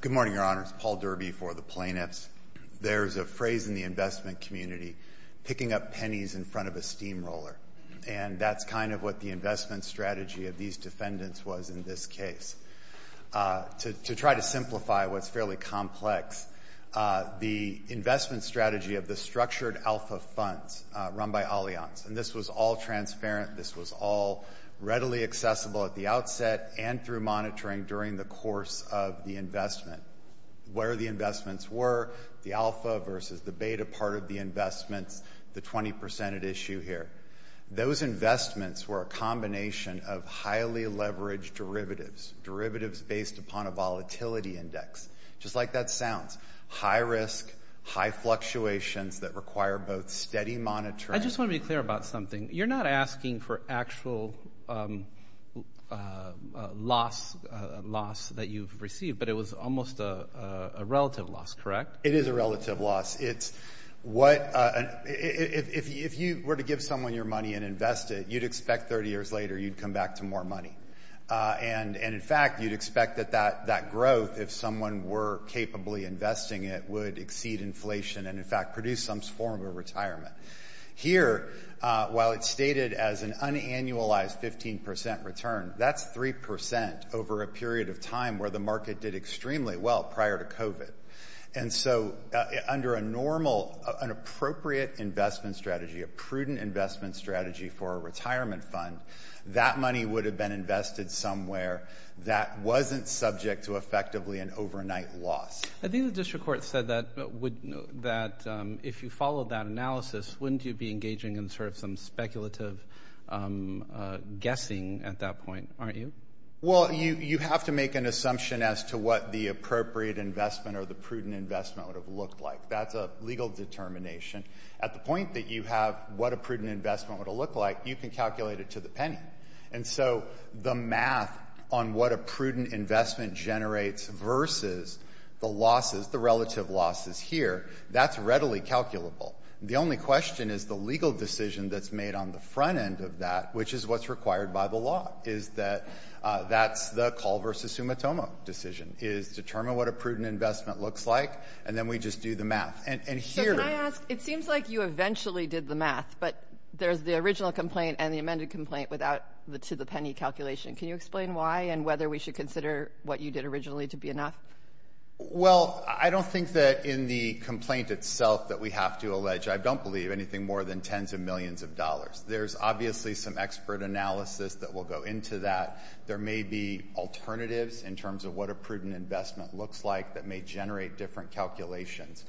Good morning, Your Honors. Paul Derby for the plaintiffs. There's a phrase in the investment community, picking up pennies in front of a steamroller, and that's kind of what the investment strategy of these defendants was in this case. To try to simplify what's fairly complex, the investment strategy of the structured alpha funds run by Allianz, and this was all transparent, this was all readily accessible at the outset and through monitoring during the course of the investment, where the investments were, the alpha versus the beta part of the investments, the 20 percent at issue here. Those investments were a combination of highly leveraged derivatives, derivatives based upon a volatility index, just like that sounds, high risk, high fluctuations that require both steady monitoring... I just want to be clear about something. You're not asking for actual loss that you've received, but it was almost a relative loss, correct? It is a relative loss. If you were to give someone your money and invest it, you'd expect 30 years later you'd come back to more money. And in fact, you'd expect that that growth, if someone were capably investing it, would exceed inflation and in fact produce some form of a retirement. Here, while it's stated as an unannualized 15 percent return, that's three percent over a period of time where the market did extremely well prior to COVID. And so under a normal, an appropriate investment strategy, a prudent investment strategy for a retirement fund, that money would have been invested somewhere that wasn't subject to effectively an overnight loss. I think the district court said that if you followed that analysis, wouldn't you be engaging in sort of some speculative guessing at that point, aren't you? Well, you have to make an assumption as to what the appropriate investment or the prudent investment would have looked like. That's a legal determination. At the point that you have what a prudent investment would have looked like, you can calculate it to the penny. And so the math on what a prudent investment generates versus the losses, the relative losses here, that's readily calculable. The only question is the legal decision that's made on the front end of that, which is what's required by the law, is that that's the call versus summa tommo decision, is determine what a prudent investment looks like, and then we just do the math. And here — So can I ask — it seems like you eventually did the math, but there's the original complaint and the amended complaint without the to-the-penny calculation. Can you explain why and whether we should consider what you did originally to be enough? Well, I don't think that in the complaint itself that we have to allege, I don't believe anything more than tens of millions of dollars. There's obviously some expert analysis that will go into that. There may be alternatives in terms of what a prudent investment looks like that may generate different calculations.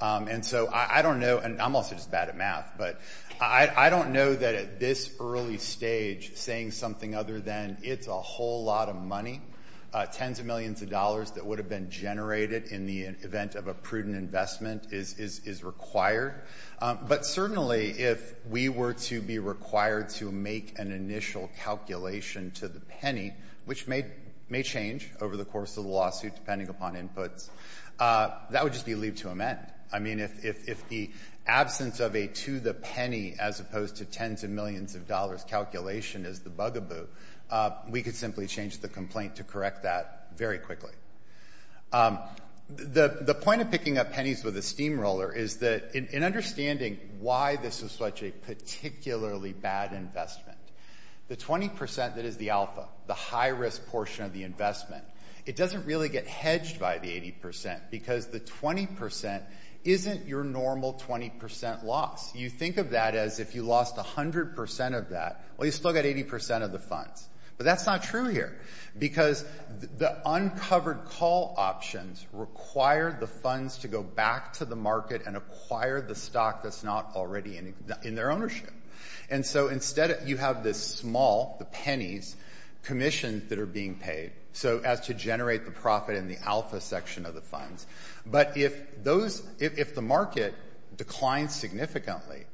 And so I don't know — and I'm also just doing that math, but I don't know that at this early stage saying something other than it's a whole lot of money, tens of millions of dollars that would have been generated in the event of a prudent investment is required. But certainly if we were to be required to make an initial calculation to the penny, which may change over the course of the lawsuit depending upon inputs, that would just be leave to amend. I mean, if the absence of a to-the-penny as opposed to tens of millions of dollars calculation is the bugaboo, we could simply change the complaint to correct that very quickly. The point of picking up pennies with a steamroller is that in understanding why this is such a particularly bad investment, the 20 percent that is the alpha, the high-risk portion of the investment, it doesn't really get hedged by the 80 percent because the 20 percent isn't your normal 20 percent loss. You think of that as if you lost 100 percent of that, well, you still got 80 percent of the funds. But that's not true here because the uncovered call options require the funds to go back to the market and acquire the stock that's not already in their ownership. And so instead you have this small, the pennies, commissions that are being paid so as to generate the profit in the alpha section of the funds. But if those, if the market declines significantly,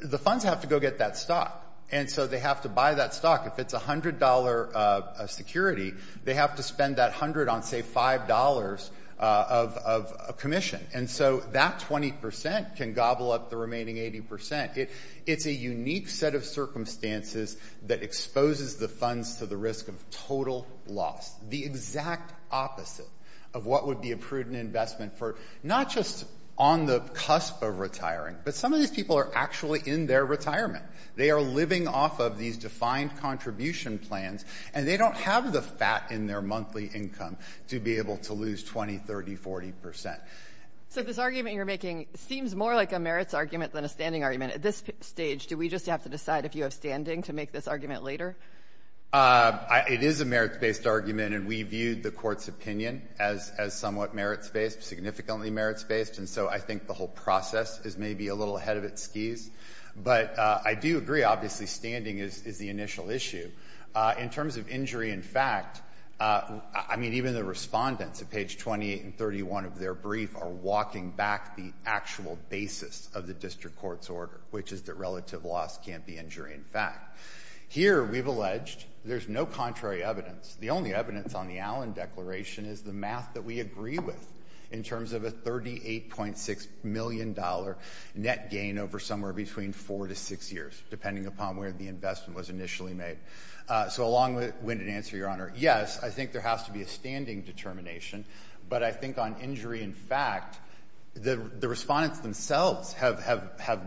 the funds have to go get that stock. And so they have to buy that stock. If it's $100 security, they have to spend that $100 on, say, $5 of a commission. And so that 20 percent can gobble up the remaining 80 percent. It's a unique set of circumstances that exposes the funds to the risk of total loss, the exact opposite of what would be a prudent investment for not just on the cusp of retiring, but some of these people are actually in their retirement. They are living off of these defined contribution plans, and they don't have the fat in their monthly income to be able to lose 20, 30, 40 percent. So this argument you're making seems more like a merits argument than a standing argument. At this stage, do we just have to decide if you have standing to make this argument later? It is a merits-based argument, and we viewed the court's opinion as somewhat merits-based, significantly merits-based. And so I think the whole process is maybe a little ahead of its skis. But I do agree, obviously, standing is the initial issue. In terms of injury in fact, I mean, even the respondents at page 28 and 31 of their brief are walking back the actual basis of the district court's order, which is that relative loss can't be injury in fact. Here, we've alleged there's no contrary evidence. The only evidence on the Allen Declaration is the math that we agree with in terms of a $38.6 million net gain over somewhere between four to six years, depending upon where the investment was initially made. So a long-winded answer, Your Honor. Yes, I think there has to be a standing determination. But I think on injury in fact, the respondents themselves have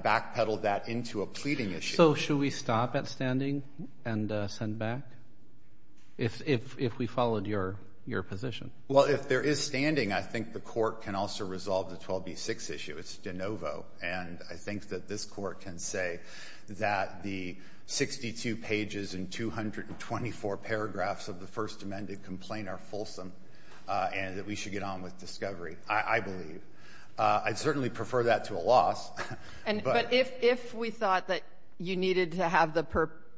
backpedaled that into a pleading issue. So should we stop at standing and send back, if we followed your position? Well, if there is standing, I think the court can also resolve the 12B6 issue. It's de novo. And I think that this court can say that the 62 pages and 224 paragraphs of the First Amendment complaint are fulsome and that we should get on with discovery, I believe. I'd certainly prefer that to a loss. But if we thought that you needed to have the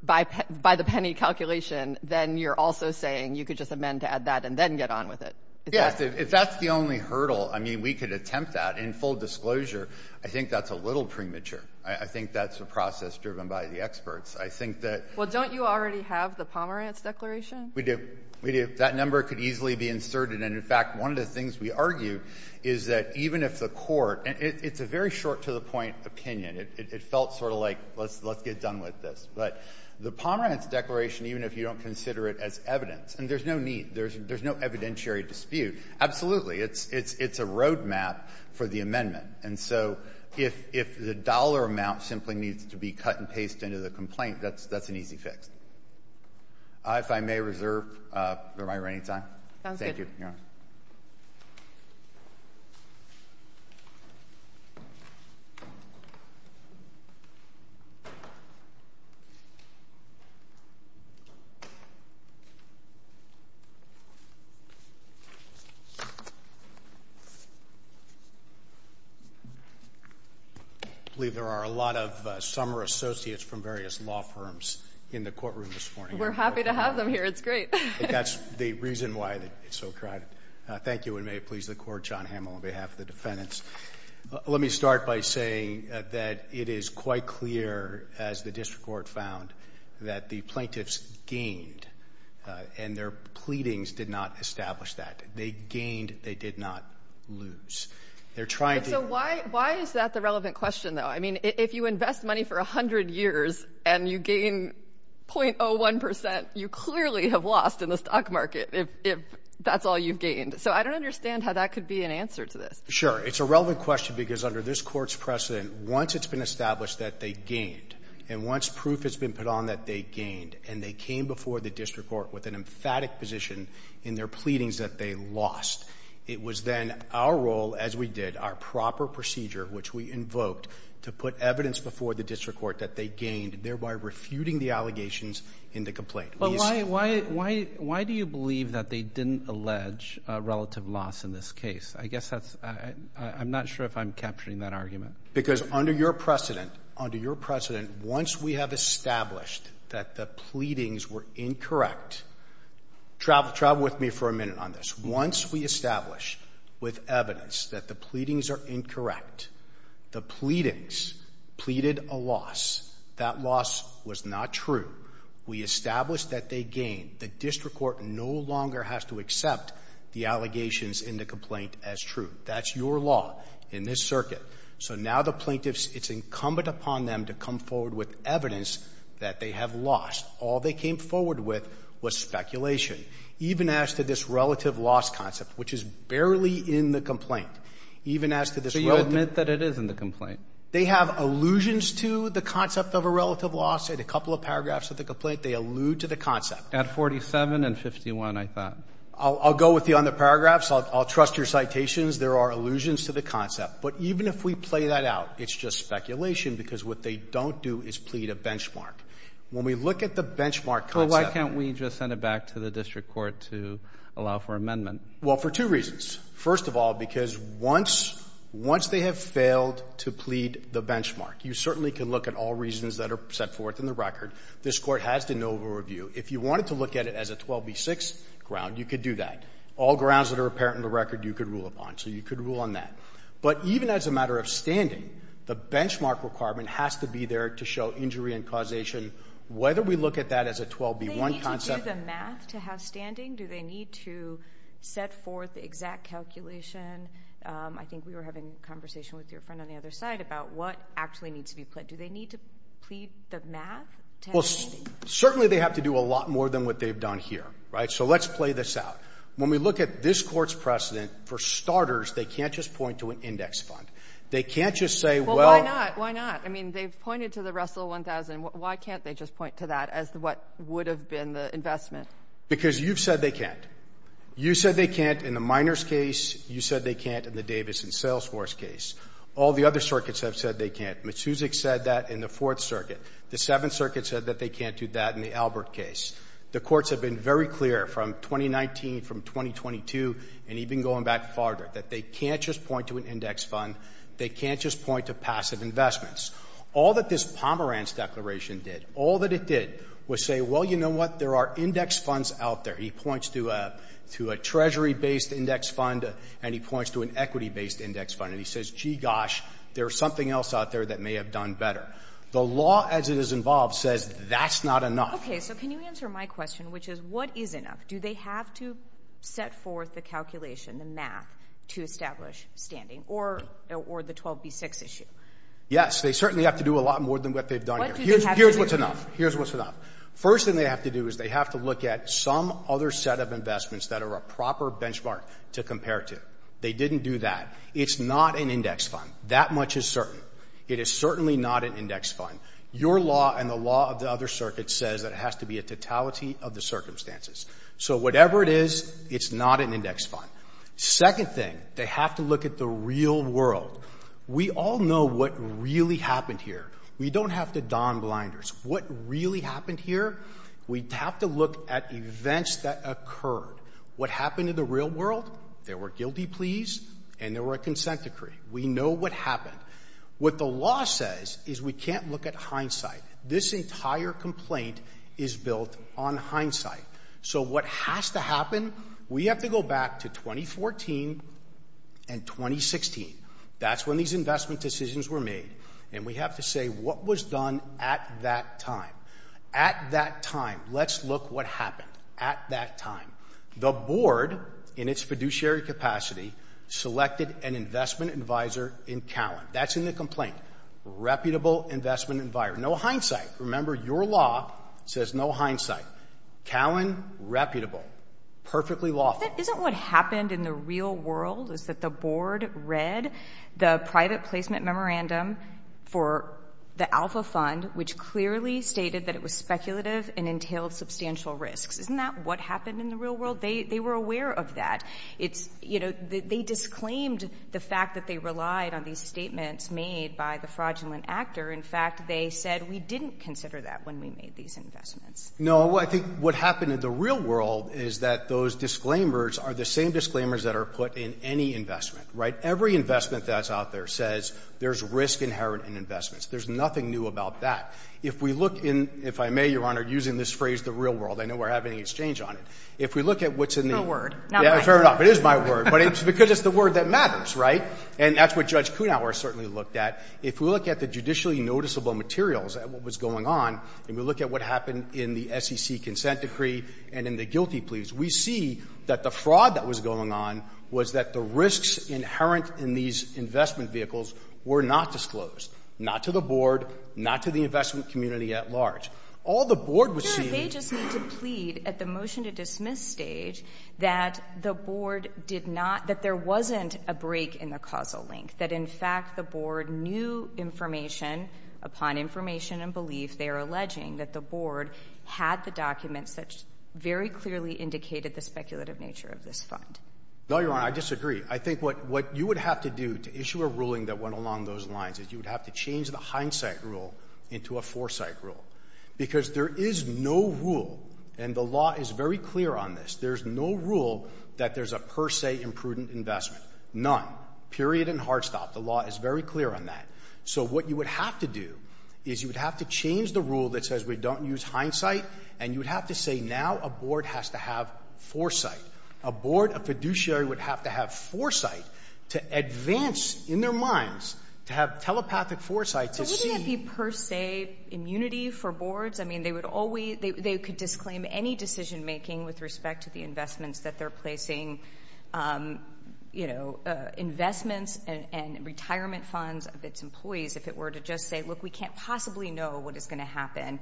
by the penny calculation, then you're also saying you could just amend to add that and then get on with it. Yes. If that's the only hurdle, I mean, we could attempt that in full disclosure. I think that's a little premature. I think that's a process driven by the experts. I think that... Well, don't you already have the Pomerantz Declaration? We do. We do. That number could easily be inserted. And in fact, one of the things we argued is that even if the court — and it's a very short-to-the-point opinion. It felt sort of like, let's get done with this. But the Pomerantz Declaration, even if you don't consider it as evidence — and there's no need. There's no evidentiary dispute. Absolutely. It's a road map for the amendment. And so if the dollar amount simply needs to be cut and pasted into the complaint, that's an easy fix. If I may reserve my remaining time. Sounds good. Thank you, Your Honor. I believe there are a lot of summer associates from various law firms in the courtroom this morning. We're happy to have them here. It's great. That's the reason why it's so crowded. Thank you. And may it please the Court, John Hamill, on behalf of the defendants. Let me start by saying that it is quite clear, as the district court found, that the plaintiffs gained. And their pleadings did not establish that. They gained. They did not lose. They're trying to... So why is that the relevant question, though? I mean, if you invest money for a in the stock market, if that's all you've gained. So I don't understand how that could be an answer to this. Sure. It's a relevant question because under this court's precedent, once it's been established that they gained, and once proof has been put on that they gained, and they came before the district court with an emphatic position in their pleadings that they lost, it was then our role, as we did, our proper procedure, which we invoked, to put evidence before the district court that they gained, thereby refuting the allegations in the complaint. But why do you believe that they didn't allege relative loss in this case? I guess that's... I'm not sure if I'm capturing that argument. Because under your precedent, under your precedent, once we have established that the pleadings were incorrect... Travel with me for a minute on this. Once we establish with evidence that the pleadings are incorrect, the pleadings pleaded a loss. That loss was not true. We established that they gained. The district court no longer has to accept the allegations in the complaint as true. That's your law in this circuit. So now the plaintiffs, it's incumbent upon them to come forward with evidence that they have lost. All they came forward with was speculation. Even as to this relative loss concept, which is barely in the complaint, even as to this... So you admit that it is in the complaint? They have allusions to the concept of a relative loss. In a couple of paragraphs of the complaint, they allude to the concept. At 47 and 51, I thought. I'll go with you on the paragraphs. I'll trust your citations. There are allusions to the concept. But even if we play that out, it's just speculation because what they don't do is plead a benchmark. When we look at the benchmark concept... Well, why can't we just send it back to the district court to allow for amendment? Well, for two reasons. First of all, because once they have failed to plead the benchmark, you certainly can look at all reasons that are set forth in the record. This court has to know the review. If you wanted to look at it as a 12B6 ground, you could do that. All grounds that are apparent in the record, you could rule upon. So you could rule on that. But even as a matter of standing, the benchmark requirement has to be there to show injury and causation. Whether we look at that as a 12B1 concept... Do they need the math to have standing? Do they need to set forth the exact calculation? I think we were having a conversation with your friend on the other side about what actually needs to be pledged. Do they need to plead the math to have standing? Certainly, they have to do a lot more than what they've done here. So let's play this out. When we look at this court's precedent, for starters, they can't just point to an index fund. They can't just say... Well, why not? Why not? I mean, they've pointed to the Russell 1000. Why can't they just point to that as what would have been the investment? Because you've said they can't. You said they can't in the Miners case. You said they can't in the Davis and Salesforce case. All the other circuits have said they can't. Metsusek said that in the Fourth Circuit. The Seventh Circuit said that they can't do that in the Albert case. The courts have been very clear from 2019, from 2022, and even going back farther, that they can't just point to an index fund. They can't just point to passive investments. All that this Pomerantz declaration did, all that it did was say, well, you know what? There are index funds out there. He points to a Treasury-based index fund, and he points to an equity-based index fund. And he says, gee, gosh, there's something else out there that may have done better. The law, as it is involved, says that's not enough. Okay, so can you answer my question, which is, what is enough? Do they have to set forth the calculation, the math, to establish standing, or the 12B6 issue? Yes, they certainly have to do a lot more than what they've done. Here's what's enough. Here's what's enough. First thing they have to do is they have to look at some other set of investments that are a proper benchmark to compare to. They didn't do that. It's not an index fund. That much is certain. It is certainly not an index fund. Your law and the law of the other circuits says that it has to be a totality of the circumstances. So whatever it is, it's not an index fund. Second thing, they have to look at the real world. We all know what really happened here. We don't have to don blinders. What really happened here? We have to look at events that occurred. What happened in the real world? There were guilty pleas, and there were a consent decree. We know what happened. What the law says is we can't look at hindsight. This entire complaint is built on hindsight. So what has to happen? We have to go back to 2014 and 2016. That's when these investment decisions were made, and we have to say what was done at that time. At that time, let's look what happened at that time. The board, in its fiduciary capacity, selected an investment advisor in Cowen. That's in the complaint. Reputable investment environment. No hindsight. Remember, your law says no hindsight. Cowen reputable. Perfectly lawful. Isn't what happened in the real world is that the board read the private placement memorandum for the Alpha Fund, which clearly stated that it was speculative and entailed substantial risks. Isn't that what happened in the real world? They were aware of that. It's, you know, they disclaimed the fact that they relied on these statements made by the fraudulent actor. In fact, they said we didn't consider that when we made these investments. No, I think what happened in the real world is that those disclaimers are the same disclaimers that are put in any investment, right? Every investment that's out there says there's risk inherent in investments. There's nothing new about that. If we look in, if I may, Your Honor, using this phrase, the real world, I know we're having exchange on it. If we look at what's in the word fair enough, it is my word, but it's because it's the word that matters, right? And that's what Judge Kuhnhauer certainly looked at. If we look at the judicially noticeable materials at what was going on, and we look at what happened in the SEC consent decree and in the guilty pleas, we see that the fraud that was going on was that the risks inherent in these investment vehicles were not disclosed, not to the Board, not to the investment community at large. All the Board was seeing was that the They just need to plead at the motion-to-dismiss stage that the Board did not, that there wasn't a break in the causal link, that, in fact, the Board knew information upon information and belief. They are alleging that the Board had the documents that very clearly indicated the speculative nature of this fund. No, Your Honor, I disagree. I think what you would have to do to issue a ruling that went along those lines is you would have to change the hindsight rule into a foresight rule because there is no rule, and the law is very clear on this. There's no rule that there's a per se imprudent investment. None. Period and hard stop. The law is very clear on that. So what you would have to do is you would have to change the rule that says we don't use hindsight, and you would have to say now a Board has to have foresight. A Board, a fiduciary would have to have foresight to advance in their minds, to have telepathic foresight to see. But wouldn't that be per se immunity for Boards? I mean, they would always, they could disclaim any decision making with respect to the investments that they're and retirement funds of its employees if it were to just say, look, we can't possibly know what is going to happen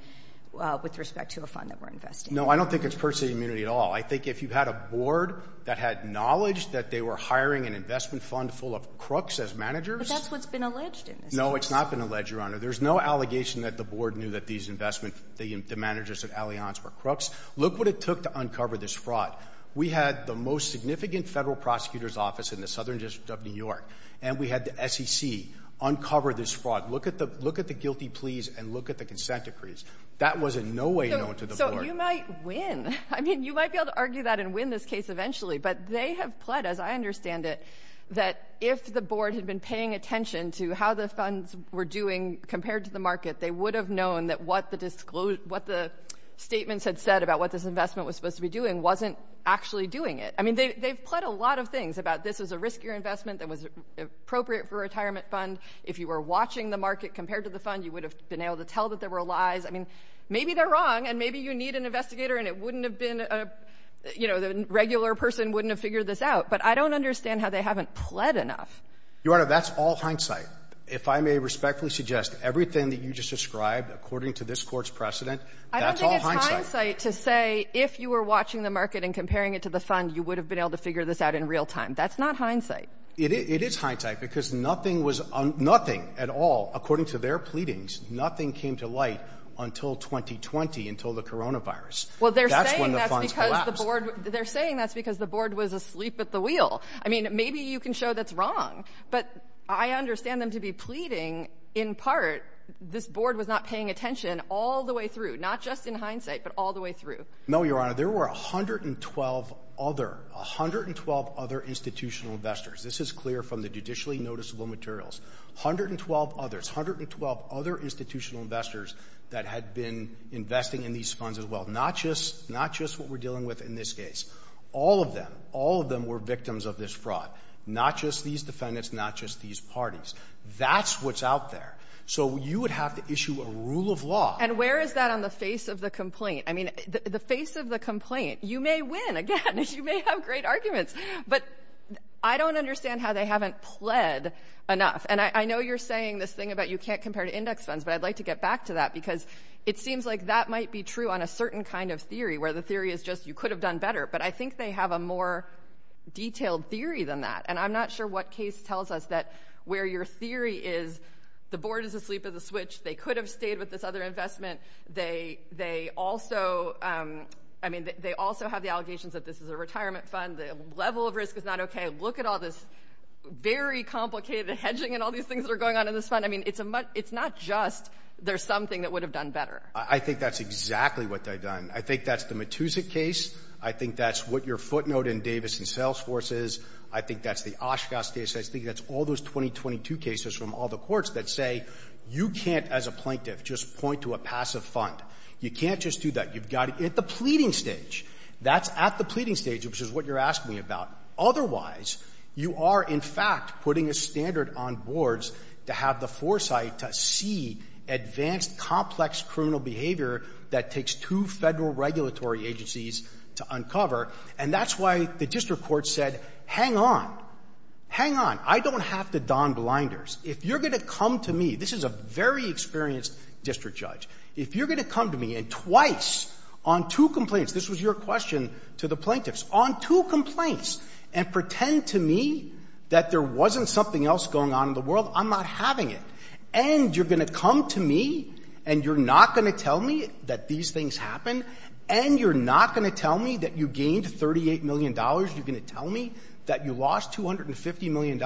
with respect to a fund that we're investing. No, I don't think it's per se immunity at all. I think if you had a Board that had knowledge that they were hiring an investment fund full of crooks as managers. That's what's been alleged in this case. No, it's not been alleged, Your Honor. There's no allegation that the Board knew that these investment, the managers at Allianz were crooks. Look what it took to uncover this fraud. We had the most significant federal prosecutor's in the Southern District of New York, and we had the SEC uncover this fraud. Look at the guilty pleas and look at the consent decrees. That was in no way known to the Board. So you might win. I mean, you might be able to argue that and win this case eventually. But they have pled, as I understand it, that if the Board had been paying attention to how the funds were doing compared to the market, they would have known that what the statements had said about what this investment was supposed to be doing wasn't actually doing it. I mean, they've pled a lot of things about this is a riskier investment that was appropriate for a retirement fund. If you were watching the market compared to the fund, you would have been able to tell that there were lies. I mean, maybe they're wrong, and maybe you need an investigator, and it wouldn't have been, you know, the regular person wouldn't have figured this out. But I don't understand how they haven't pled enough. Your Honor, that's all hindsight. If I may respectfully suggest, everything that you just described, according to this Court's precedent, that's all hindsight. I don't think it's hindsight to say if you were watching the market and comparing it to the fund, you would have been able to figure this out in real time. That's not hindsight. It is hindsight, because nothing at all, according to their pleadings, nothing came to light until 2020, until the coronavirus. Well, they're saying that's because the Board was asleep at the wheel. I mean, maybe you can show that's wrong, but I understand them to be pleading, in part, this Board was not paying attention all the way through, not just in hindsight, but all the way through. No, Your Honor. There were 112 other, 112 other institutional investors. This is clear from the judicially noticeable materials. Hundred and twelve others, 112 other institutional investors that had been investing in these funds as well, not just what we're dealing with in this case. All of them, all of them were victims of this fraud, not just these defendants, not just these parties. That's what's out there. So you would have to issue a rule of law. And where is that on the face of the complaint? I mean, the face of the complaint, you may win, again, you may have great arguments, but I don't understand how they haven't pled enough. And I know you're saying this thing about you can't compare to index funds, but I'd like to get back to that, because it seems like that might be true on a certain kind of theory, where the theory is just you could have done better. But I think they have a more detailed theory than that. And I'm not sure what case tells us that where your theory is, the Board is asleep at the switch, they could have stayed with this other investment. They also have the allegations that this is a retirement fund, the level of risk is not okay. Look at all this very complicated hedging and all these things that are going on in this fund. I mean, it's not just there's something that would have done better. I think that's exactly what they've done. I think that's the Matusik case. I think that's what your footnote in Davis and Salesforce is. I think that's the Oshkosh case. I think that's all those 2022 cases from all the courts that say you can't, as a plaintiff, just point to a passive fund. You can't just do that. You've got to get the pleading stage. That's at the pleading stage, which is what you're asking me about. Otherwise, you are, in fact, putting a standard on boards to have the foresight to see advanced, complex criminal behavior that takes two Federal regulatory agencies to uncover. And that's why the district court said, hang on, hang on. I don't have to don blinders. If you're going to come to me, this is a very experienced district judge, if you're going to come to me and twice on two complaints, this was your question to the plaintiffs, on two complaints and pretend to me that there wasn't something else going on in the world, I'm not having it. And you're going to come to me and you're not going to tell me that these things happened. And you're not going to tell me that you gained $38 million. You're going to tell me that you lost $250 million.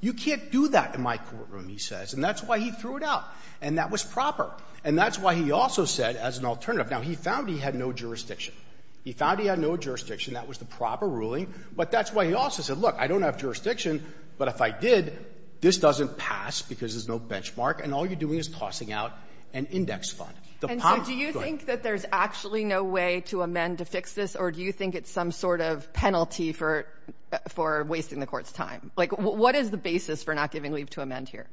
You can't do that in my courtroom, he says. And that's why he threw it out, and that was proper. And that's why he also said, as an alternative — now, he found he had no jurisdiction. He found he had no jurisdiction. That was the proper ruling. But that's why he also said, look, I don't have jurisdiction, but if I did, this doesn't pass because there's no benchmark, and all you're doing is tossing out an index fund. The pomp — And so do you think that there's actually no way to amend to fix this, or do you think it's some sort of penalty for — for wasting the court's time? Like, what is the basis for not giving leave to amend here?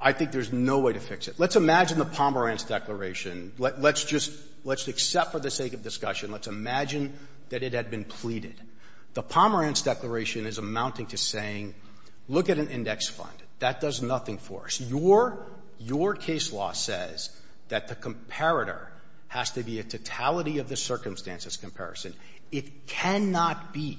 I think there's no way to fix it. Let's imagine the Pomerantz Declaration. Let's just — let's accept, for the sake of discussion, let's imagine that it had been pleaded. The Pomerantz Declaration is amounting to saying, look at an index fund. That does nothing for us. Your — your case law says that the comparator has to be a totality-of-the-circumstances comparison. It cannot be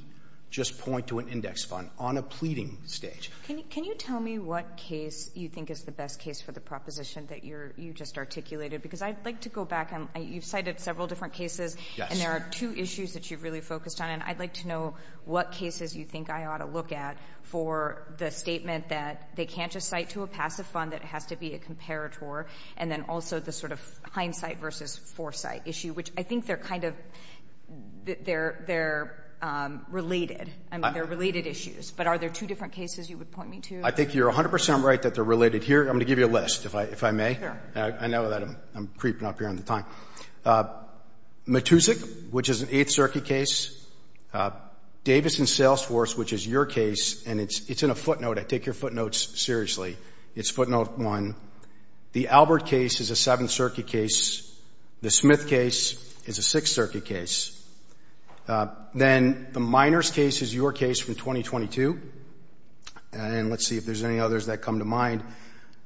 just point to an index fund on a pleading stage. Can you — can you tell me what case you think is the best case for the proposition that you're — you just articulated? Because I'd like to go back and — you've cited several different cases, and there are two issues that you've really focused on, and I'd like to know what cases you think I ought to look at for the statement that they can't just cite to a passive fund, that it has to be a comparator, and then also the sort of hindsight versus foresight issue, which I think they're kind of — they're — they're related. I mean, they're related issues. But are there two different cases you would point me to? I think you're 100 percent right that they're related here. I'm going to give you a list, if I — if I may. Sure. I know that I'm — I'm creeping up here on the time. Matusik, which is an Eighth Circuit case. Davis & Salesforce, which is your case, and it's — it's in a footnote. I take your footnotes seriously. It's footnote one. The Albert case is a Seventh Circuit case. The Smith case is a Sixth Circuit case. Then the Miners case is your case from 2022, and let's see if there's any others that come to mind.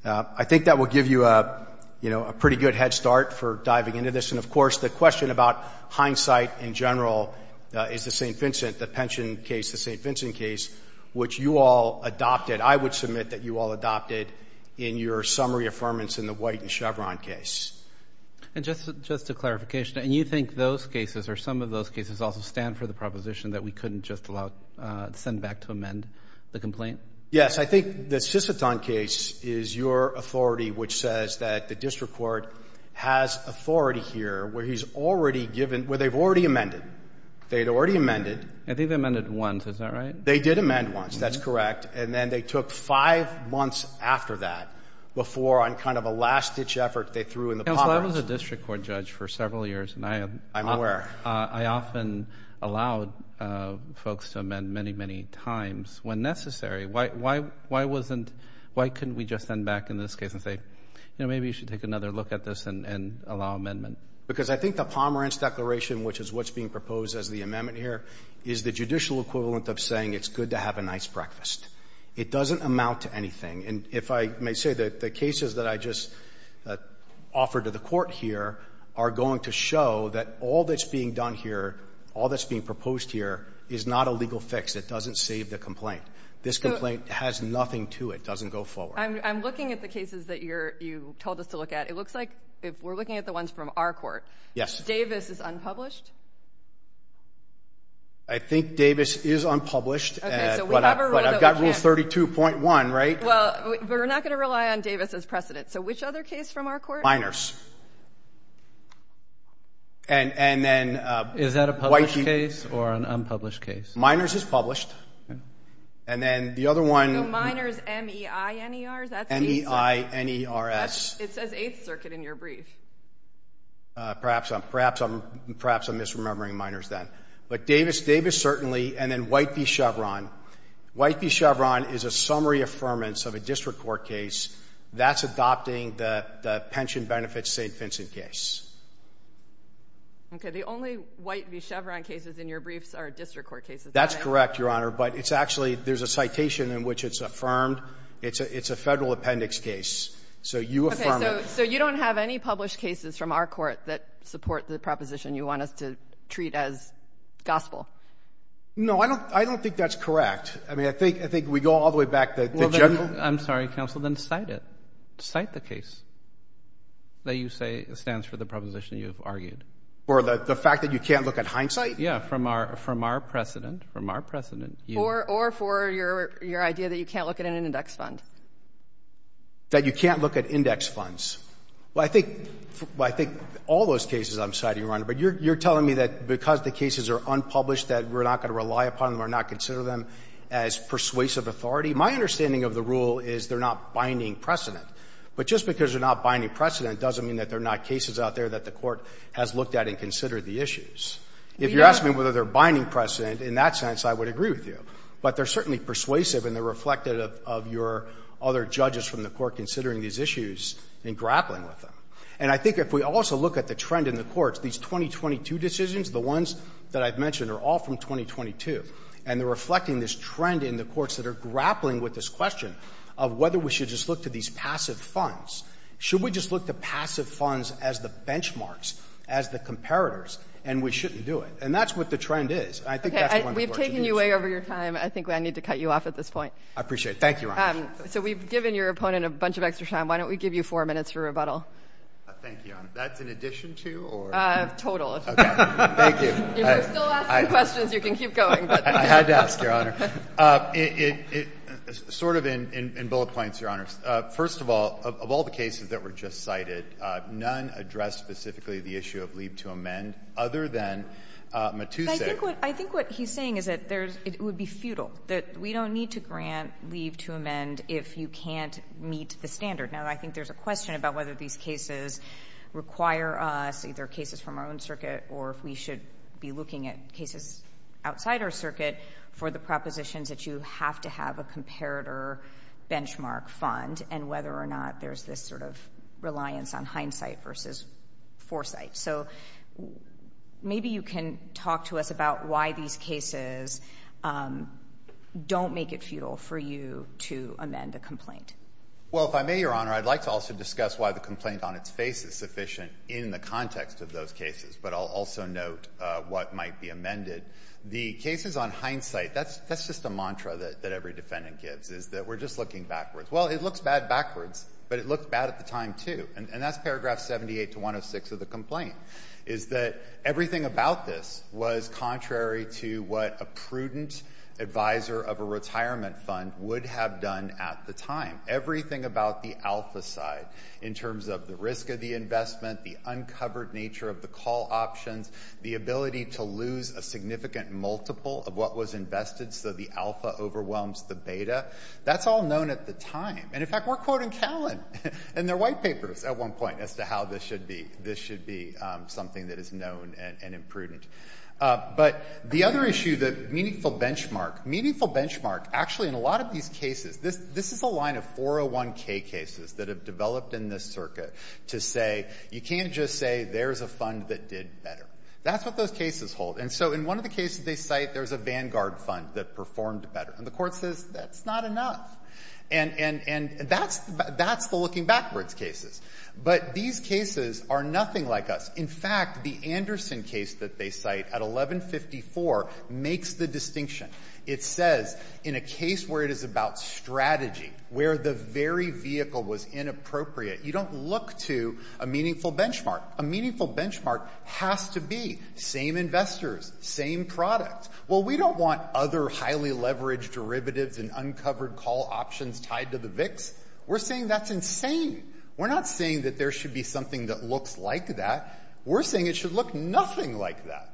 I think that will give you a — you know, a pretty good head start for diving into this. And, of course, the question about hindsight in general is the St. Vincent — the Pension case, the St. Vincent case, which you all adopted. I would submit that you all adopted in your summary affirmance in the White and Chevron case. And just — just a clarification. And you think those cases, or some of those cases, also stand for the proposition that we couldn't just allow — send back to amend the complaint? Yes. I think the Sisseton case is your authority, which says that the district court has authority here, where he's already given — where they've already amended. They had already amended. I think they amended once. Is that right? They did amend once. That's correct. And then they took five months after that before, on kind of a last-ditch effort, they threw in the Pomerantz. Counsel, I was a district court judge for several years, and I — I'm aware. — I often allowed folks to amend many, many times when necessary. Why wasn't — why couldn't we just send back in this case and say, you know, maybe you should take another look at this and allow amendment? Because I think the Pomerantz declaration, which is what's being proposed as the amendment here, is the judicial equivalent of saying it's good to have a nice breakfast. It doesn't amount to anything. And if I may say, the cases that I just offered to the court here are going to show that all that's being done here, all that's being proposed here, is not a legal fix. It doesn't save the complaint. This complaint has nothing to it. It doesn't go forward. I'm looking at the cases that you're — you told us to look at. It looks like, if we're looking at the ones from our court — Yes. — Davis is unpublished? I think Davis is unpublished. Okay. So we have a rule that we can't — But I've got Rule 32.1, right? Well, we're not going to rely on Davis as precedent. So which other case from our court? And then — Is that a published case or an unpublished case? Minors is published. And then the other one — No, Minors, M-E-I-N-E-R. That's — M-E-I-N-E-R-S. It says Eighth Circuit in your brief. Perhaps I'm — perhaps I'm — perhaps I'm misremembering Minors then. But Davis — Davis, certainly. And then White v. Chevron. White v. Chevron is a summary affirmance of a district court case that's adopting the pension benefits St. Vincent case. Okay. The only White v. Chevron cases in your briefs are district court cases, right? That's correct, Your Honor. But it's actually — there's a citation in which it's affirmed. It's a — it's a Federal Appendix case. So you affirm it. Okay. So you don't have any published cases from our court that support the proposition you want us to treat as gospel? No, I don't — I don't think that's correct. I mean, I think — I think we go all the way back to the general — I'm sorry, counsel. Then cite it. Cite the case that you say stands for the proposition you've argued. For the fact that you can't look at hindsight? Yeah, from our — from our precedent. From our precedent. Or — or for your — your idea that you can't look at an index fund. That you can't look at index funds. Well, I think — well, I think all those cases I'm citing, Your Honor, but you're — you're telling me that because the cases are unpublished, that we're not going to rely upon them or not consider them as persuasive authority? My understanding of the rule is they're not binding precedent. But just because they're not binding precedent doesn't mean that they're not cases out there that the Court has looked at and considered the issues. If you ask me whether they're binding precedent, in that sense, I would agree with you. But they're certainly persuasive and they're reflective of your other judges from the Court considering these issues and grappling with them. And I think if we also look at the trend in the courts, these 2022 decisions, the ones that I've mentioned, are all from 2022. And they're reflecting this trend in the courts that are grappling with this question of whether we should just look to these passive funds. Should we just look to passive funds as the benchmarks, as the comparators, and we shouldn't do it? And that's what the trend is. And I think that's the one — We've taken you way over your time. I think I need to cut you off at this point. I appreciate it. Thank you, Your Honor. So we've given your opponent a bunch of extra time. Why don't we give you four minutes for rebuttal? Thank you, Your Honor. That's in addition to or? Total. Okay. Thank you. If you're still asking questions, you can keep going. I had to ask, Your Honor. Sort of in bullet points, Your Honor. First of all, of all the cases that were just cited, none addressed specifically the issue of leave to amend other than Matusse. But I think what he's saying is that it would be futile, that we don't need to grant leave to amend if you can't meet the standard. Now, I think there's a question about whether these cases require us, either cases from our own circuit or if we should be looking at cases outside our circuit, for the propositions that you have to have a comparator benchmark fund and whether or not there's this sort of reliance on hindsight versus foresight. So maybe you can talk to us about why these cases don't make it futile for you to amend a complaint. Well, if I may, Your Honor, I'd like to also discuss why the complaint on its face is sufficient in the context of those cases, but I'll also note what might be amended. The cases on hindsight, that's just a mantra that every defendant gives, is that we're just looking backwards. Well, it looks bad backwards, but it looked bad at the time, too. And that's paragraph 78 to 106 of the complaint, is that everything about this was contrary to what a prudent advisor of a retirement fund would have done at the time. Everything about the alpha side, in terms of the risk of the investment, the uncovered nature of the call options, the ability to lose a significant multiple of what was invested so the alpha overwhelms the beta, that's all known at the time. And in fact, we're quoting Callan in their white papers at one point as to how this should be. This should be something that is known and imprudent. But the other issue, the meaningful benchmark. Meaningful benchmark, actually, in a lot of these cases, this is a line of 401k cases that have developed in this circuit to say you can't just say there's a fund that did better. That's what those cases hold. And so in one of the cases they cite, there's a Vanguard fund that performed better. And the Court says that's not enough. And that's the looking backwards cases. But these cases are nothing like us. In fact, the Anderson case that they cite at 1154 makes the distinction. It says in a case where it is about strategy, where the very vehicle was inappropriate, you don't look to a meaningful benchmark. A meaningful benchmark has to be same investors, same product. Well, we don't want other highly leveraged derivatives and uncovered call options tied to the VIX. We're saying that's insane. We're not saying that there should be something that looks like that. We're saying it should look nothing like that.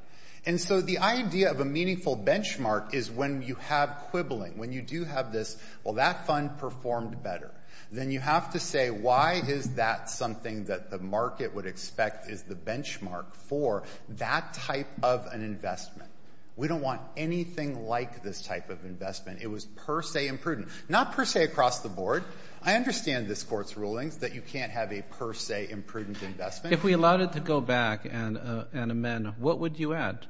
And so the idea of a meaningful benchmark is when you have quibbling, when you do have this, well, that fund performed better, then you have to say why is that something that the market would expect is the benchmark for that type of an investment. We don't want anything like this type of investment. It was per se imprudent. Not per se across the board. I understand this Court's rulings that you can't have a per se imprudent investment. If we allowed it to go back and amend, what would you add?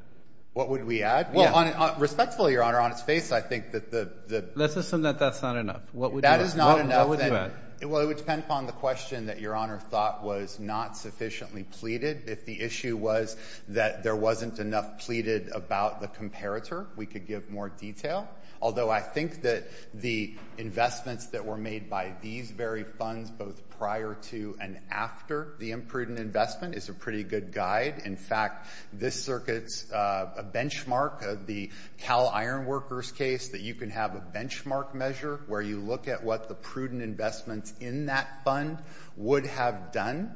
What would we add? Yeah. Respectfully, Your Honor, on its face, I think that the— Let's assume that that's not enough. What would you add? That is not enough. What would you add? Well, it would depend upon the question that Your Honor thought was not sufficiently pleaded. If the issue was that there wasn't enough pleaded about the comparator, we could give more detail. Although I think that the investments that were made by these very funds, both prior to and after the imprudent investment, is a pretty good guide. In fact, this circuit's a benchmark of the Cal Ironworkers case that you can have a benchmark measure where you look at what the prudent investments in that fund would have done,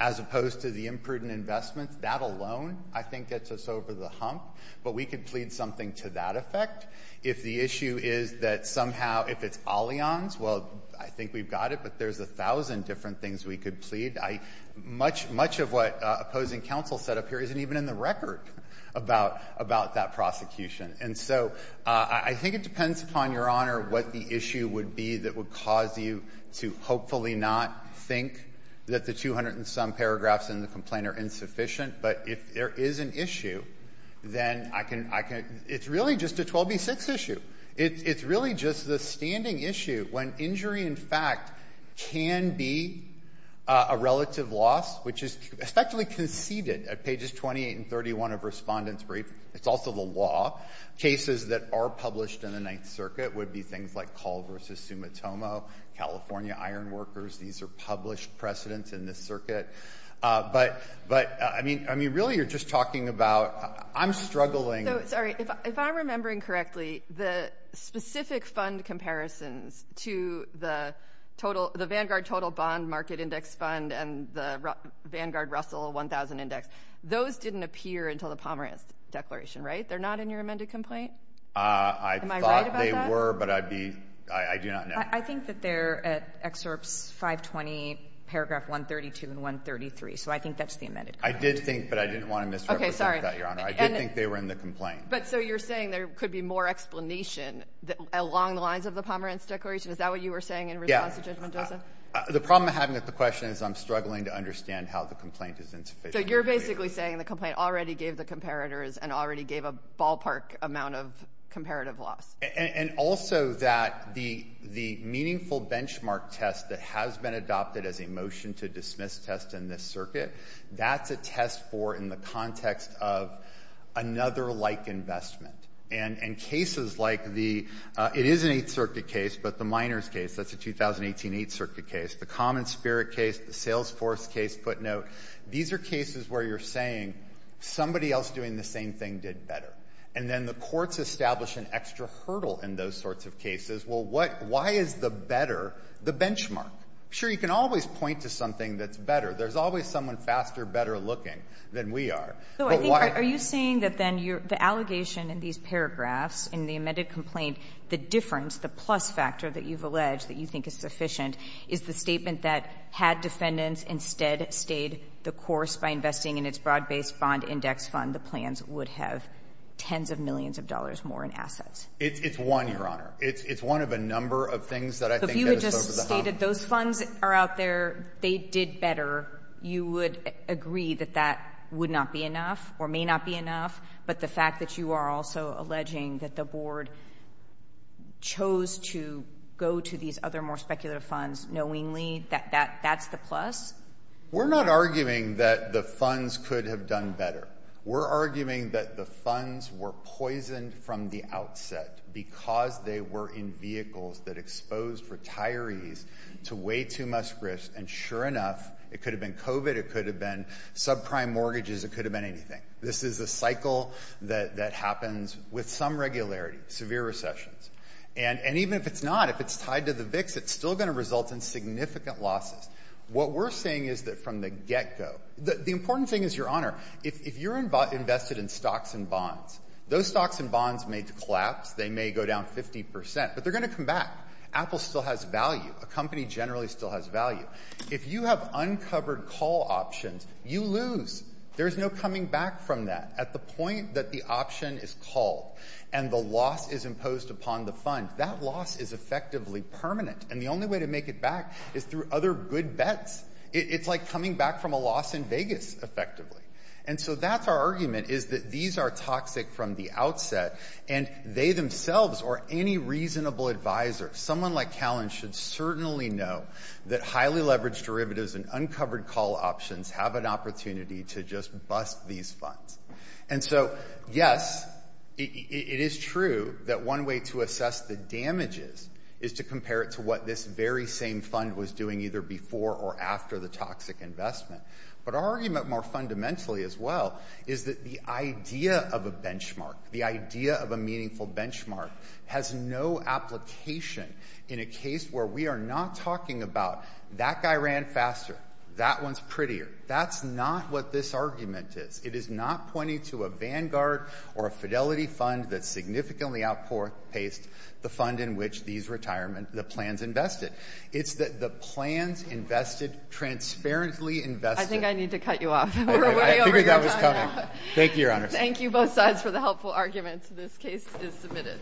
as opposed to the imprudent investments. That alone, I think, gets us over the hump. But we could plead something to that effect. If the issue is that somehow—if it's Allianz, well, I think we've got it, but there's a thousand different things we could plead. Much of what opposing counsel said up here isn't even in the record about that prosecution. And so I think it depends upon, Your Honor, what the issue would be that would cause you to hopefully not think that the 200-and-some paragraphs in the complaint are insufficient. But if there is an issue, then I can—it's really just a 12b-6 issue. It's really just the standing issue when injury, in fact, can be a relative loss, which is especially conceded at pages 28 and 31 of Respondent's Brief. It's also the law. Cases that are published in the Ninth Circuit would be things like Call v. Sumitomo, California Ironworkers. These are published precedents in this circuit. But, I mean, really, you're just talking about—I'm struggling— So, sorry. If I'm remembering correctly, the specific fund comparisons to the Vanguard Total Bond Market Index Fund and the Vanguard Russell 1000 Index, those didn't appear until the Pomerantz Declaration, right? They're not in your amended complaint? Am I right about that? I thought they were, but I'd be—I do not know. I think that they're at Excerpts 520, paragraph 132 and 133. So I think that's the amended complaint. I did think, but I didn't want to misrepresent that, Your Honor. I did think they were in the complaint. But, so, you're saying there could be more explanation along the lines of the Pomerantz Declaration? Is that what you were saying in response to Judge Mendoza? The problem I'm having with the question is I'm struggling to understand how the complaint is interfaced. So you're basically saying the complaint already gave the comparators and already gave a ballpark amount of comparative loss? And also that the meaningful benchmark test that has been adopted as a motion to dismiss this test in this circuit, that's a test for in the context of another like investment. And in cases like the — it is an Eighth Circuit case, but the Miners case, that's a 2018 Eighth Circuit case, the Common Spirit case, the Salesforce case, footnote, these are cases where you're saying somebody else doing the same thing did better. And then the courts establish an extra hurdle in those sorts of cases. Well, what — why is the better the benchmark? Sure, you can always point to something that's better. There's always someone faster, better looking than we are. But why — So I think — are you saying that then the allegation in these paragraphs, in the amended complaint, the difference, the plus factor that you've alleged that you think is sufficient is the statement that had defendants instead stayed the course by investing in its broad-based bond index fund, the plans would have tens of millions of dollars more in assets? It's one, Your Honor. It's one of a number of things that I think have us over the hump. Those funds are out there. They did better. You would agree that that would not be enough or may not be enough. But the fact that you are also alleging that the board chose to go to these other more speculative funds knowingly, that that's the plus? We're not arguing that the funds could have done better. We're arguing that the funds were poisoned from the outset because they were in vehicles that exposed retirees to way too much risk. And sure enough, it could have been COVID. It could have been subprime mortgages. It could have been anything. This is a cycle that happens with some regularity, severe recessions. And even if it's not, if it's tied to the VIX, it's still going to result in significant losses. What we're saying is that from the get-go — the important thing is, Your Honor, if you're invested in stocks and bonds, those stocks and bonds may collapse. They may go down 50 percent. But they're going to come back. Apple still has value. A company generally still has value. If you have uncovered call options, you lose. There's no coming back from that. At the point that the option is called and the loss is imposed upon the fund, that loss is effectively permanent. And the only way to make it back is through other good bets. It's like coming back from a loss in Vegas, effectively. And so that's our argument, is that these are toxic from the outset. And they themselves, or any reasonable advisor, someone like Callen, should certainly know that highly leveraged derivatives and uncovered call options have an opportunity to just bust these funds. And so, yes, it is true that one way to assess the damages is to compare it to what this very same fund was doing either before or after the toxic investment. But our argument, more fundamentally as well, is that the idea of a benchmark, the idea of a meaningful benchmark has no application in a case where we are not talking about that guy ran faster, that one's prettier. That's not what this argument is. It is not pointing to a Vanguard or a Fidelity fund that significantly outpaced the fund in which these plans invested. It's that the plans invested, transparently invested— I think I need to cut you off. I figured that was coming. Thank you, Your Honor. Thank you both sides for the helpful arguments. This case is submitted.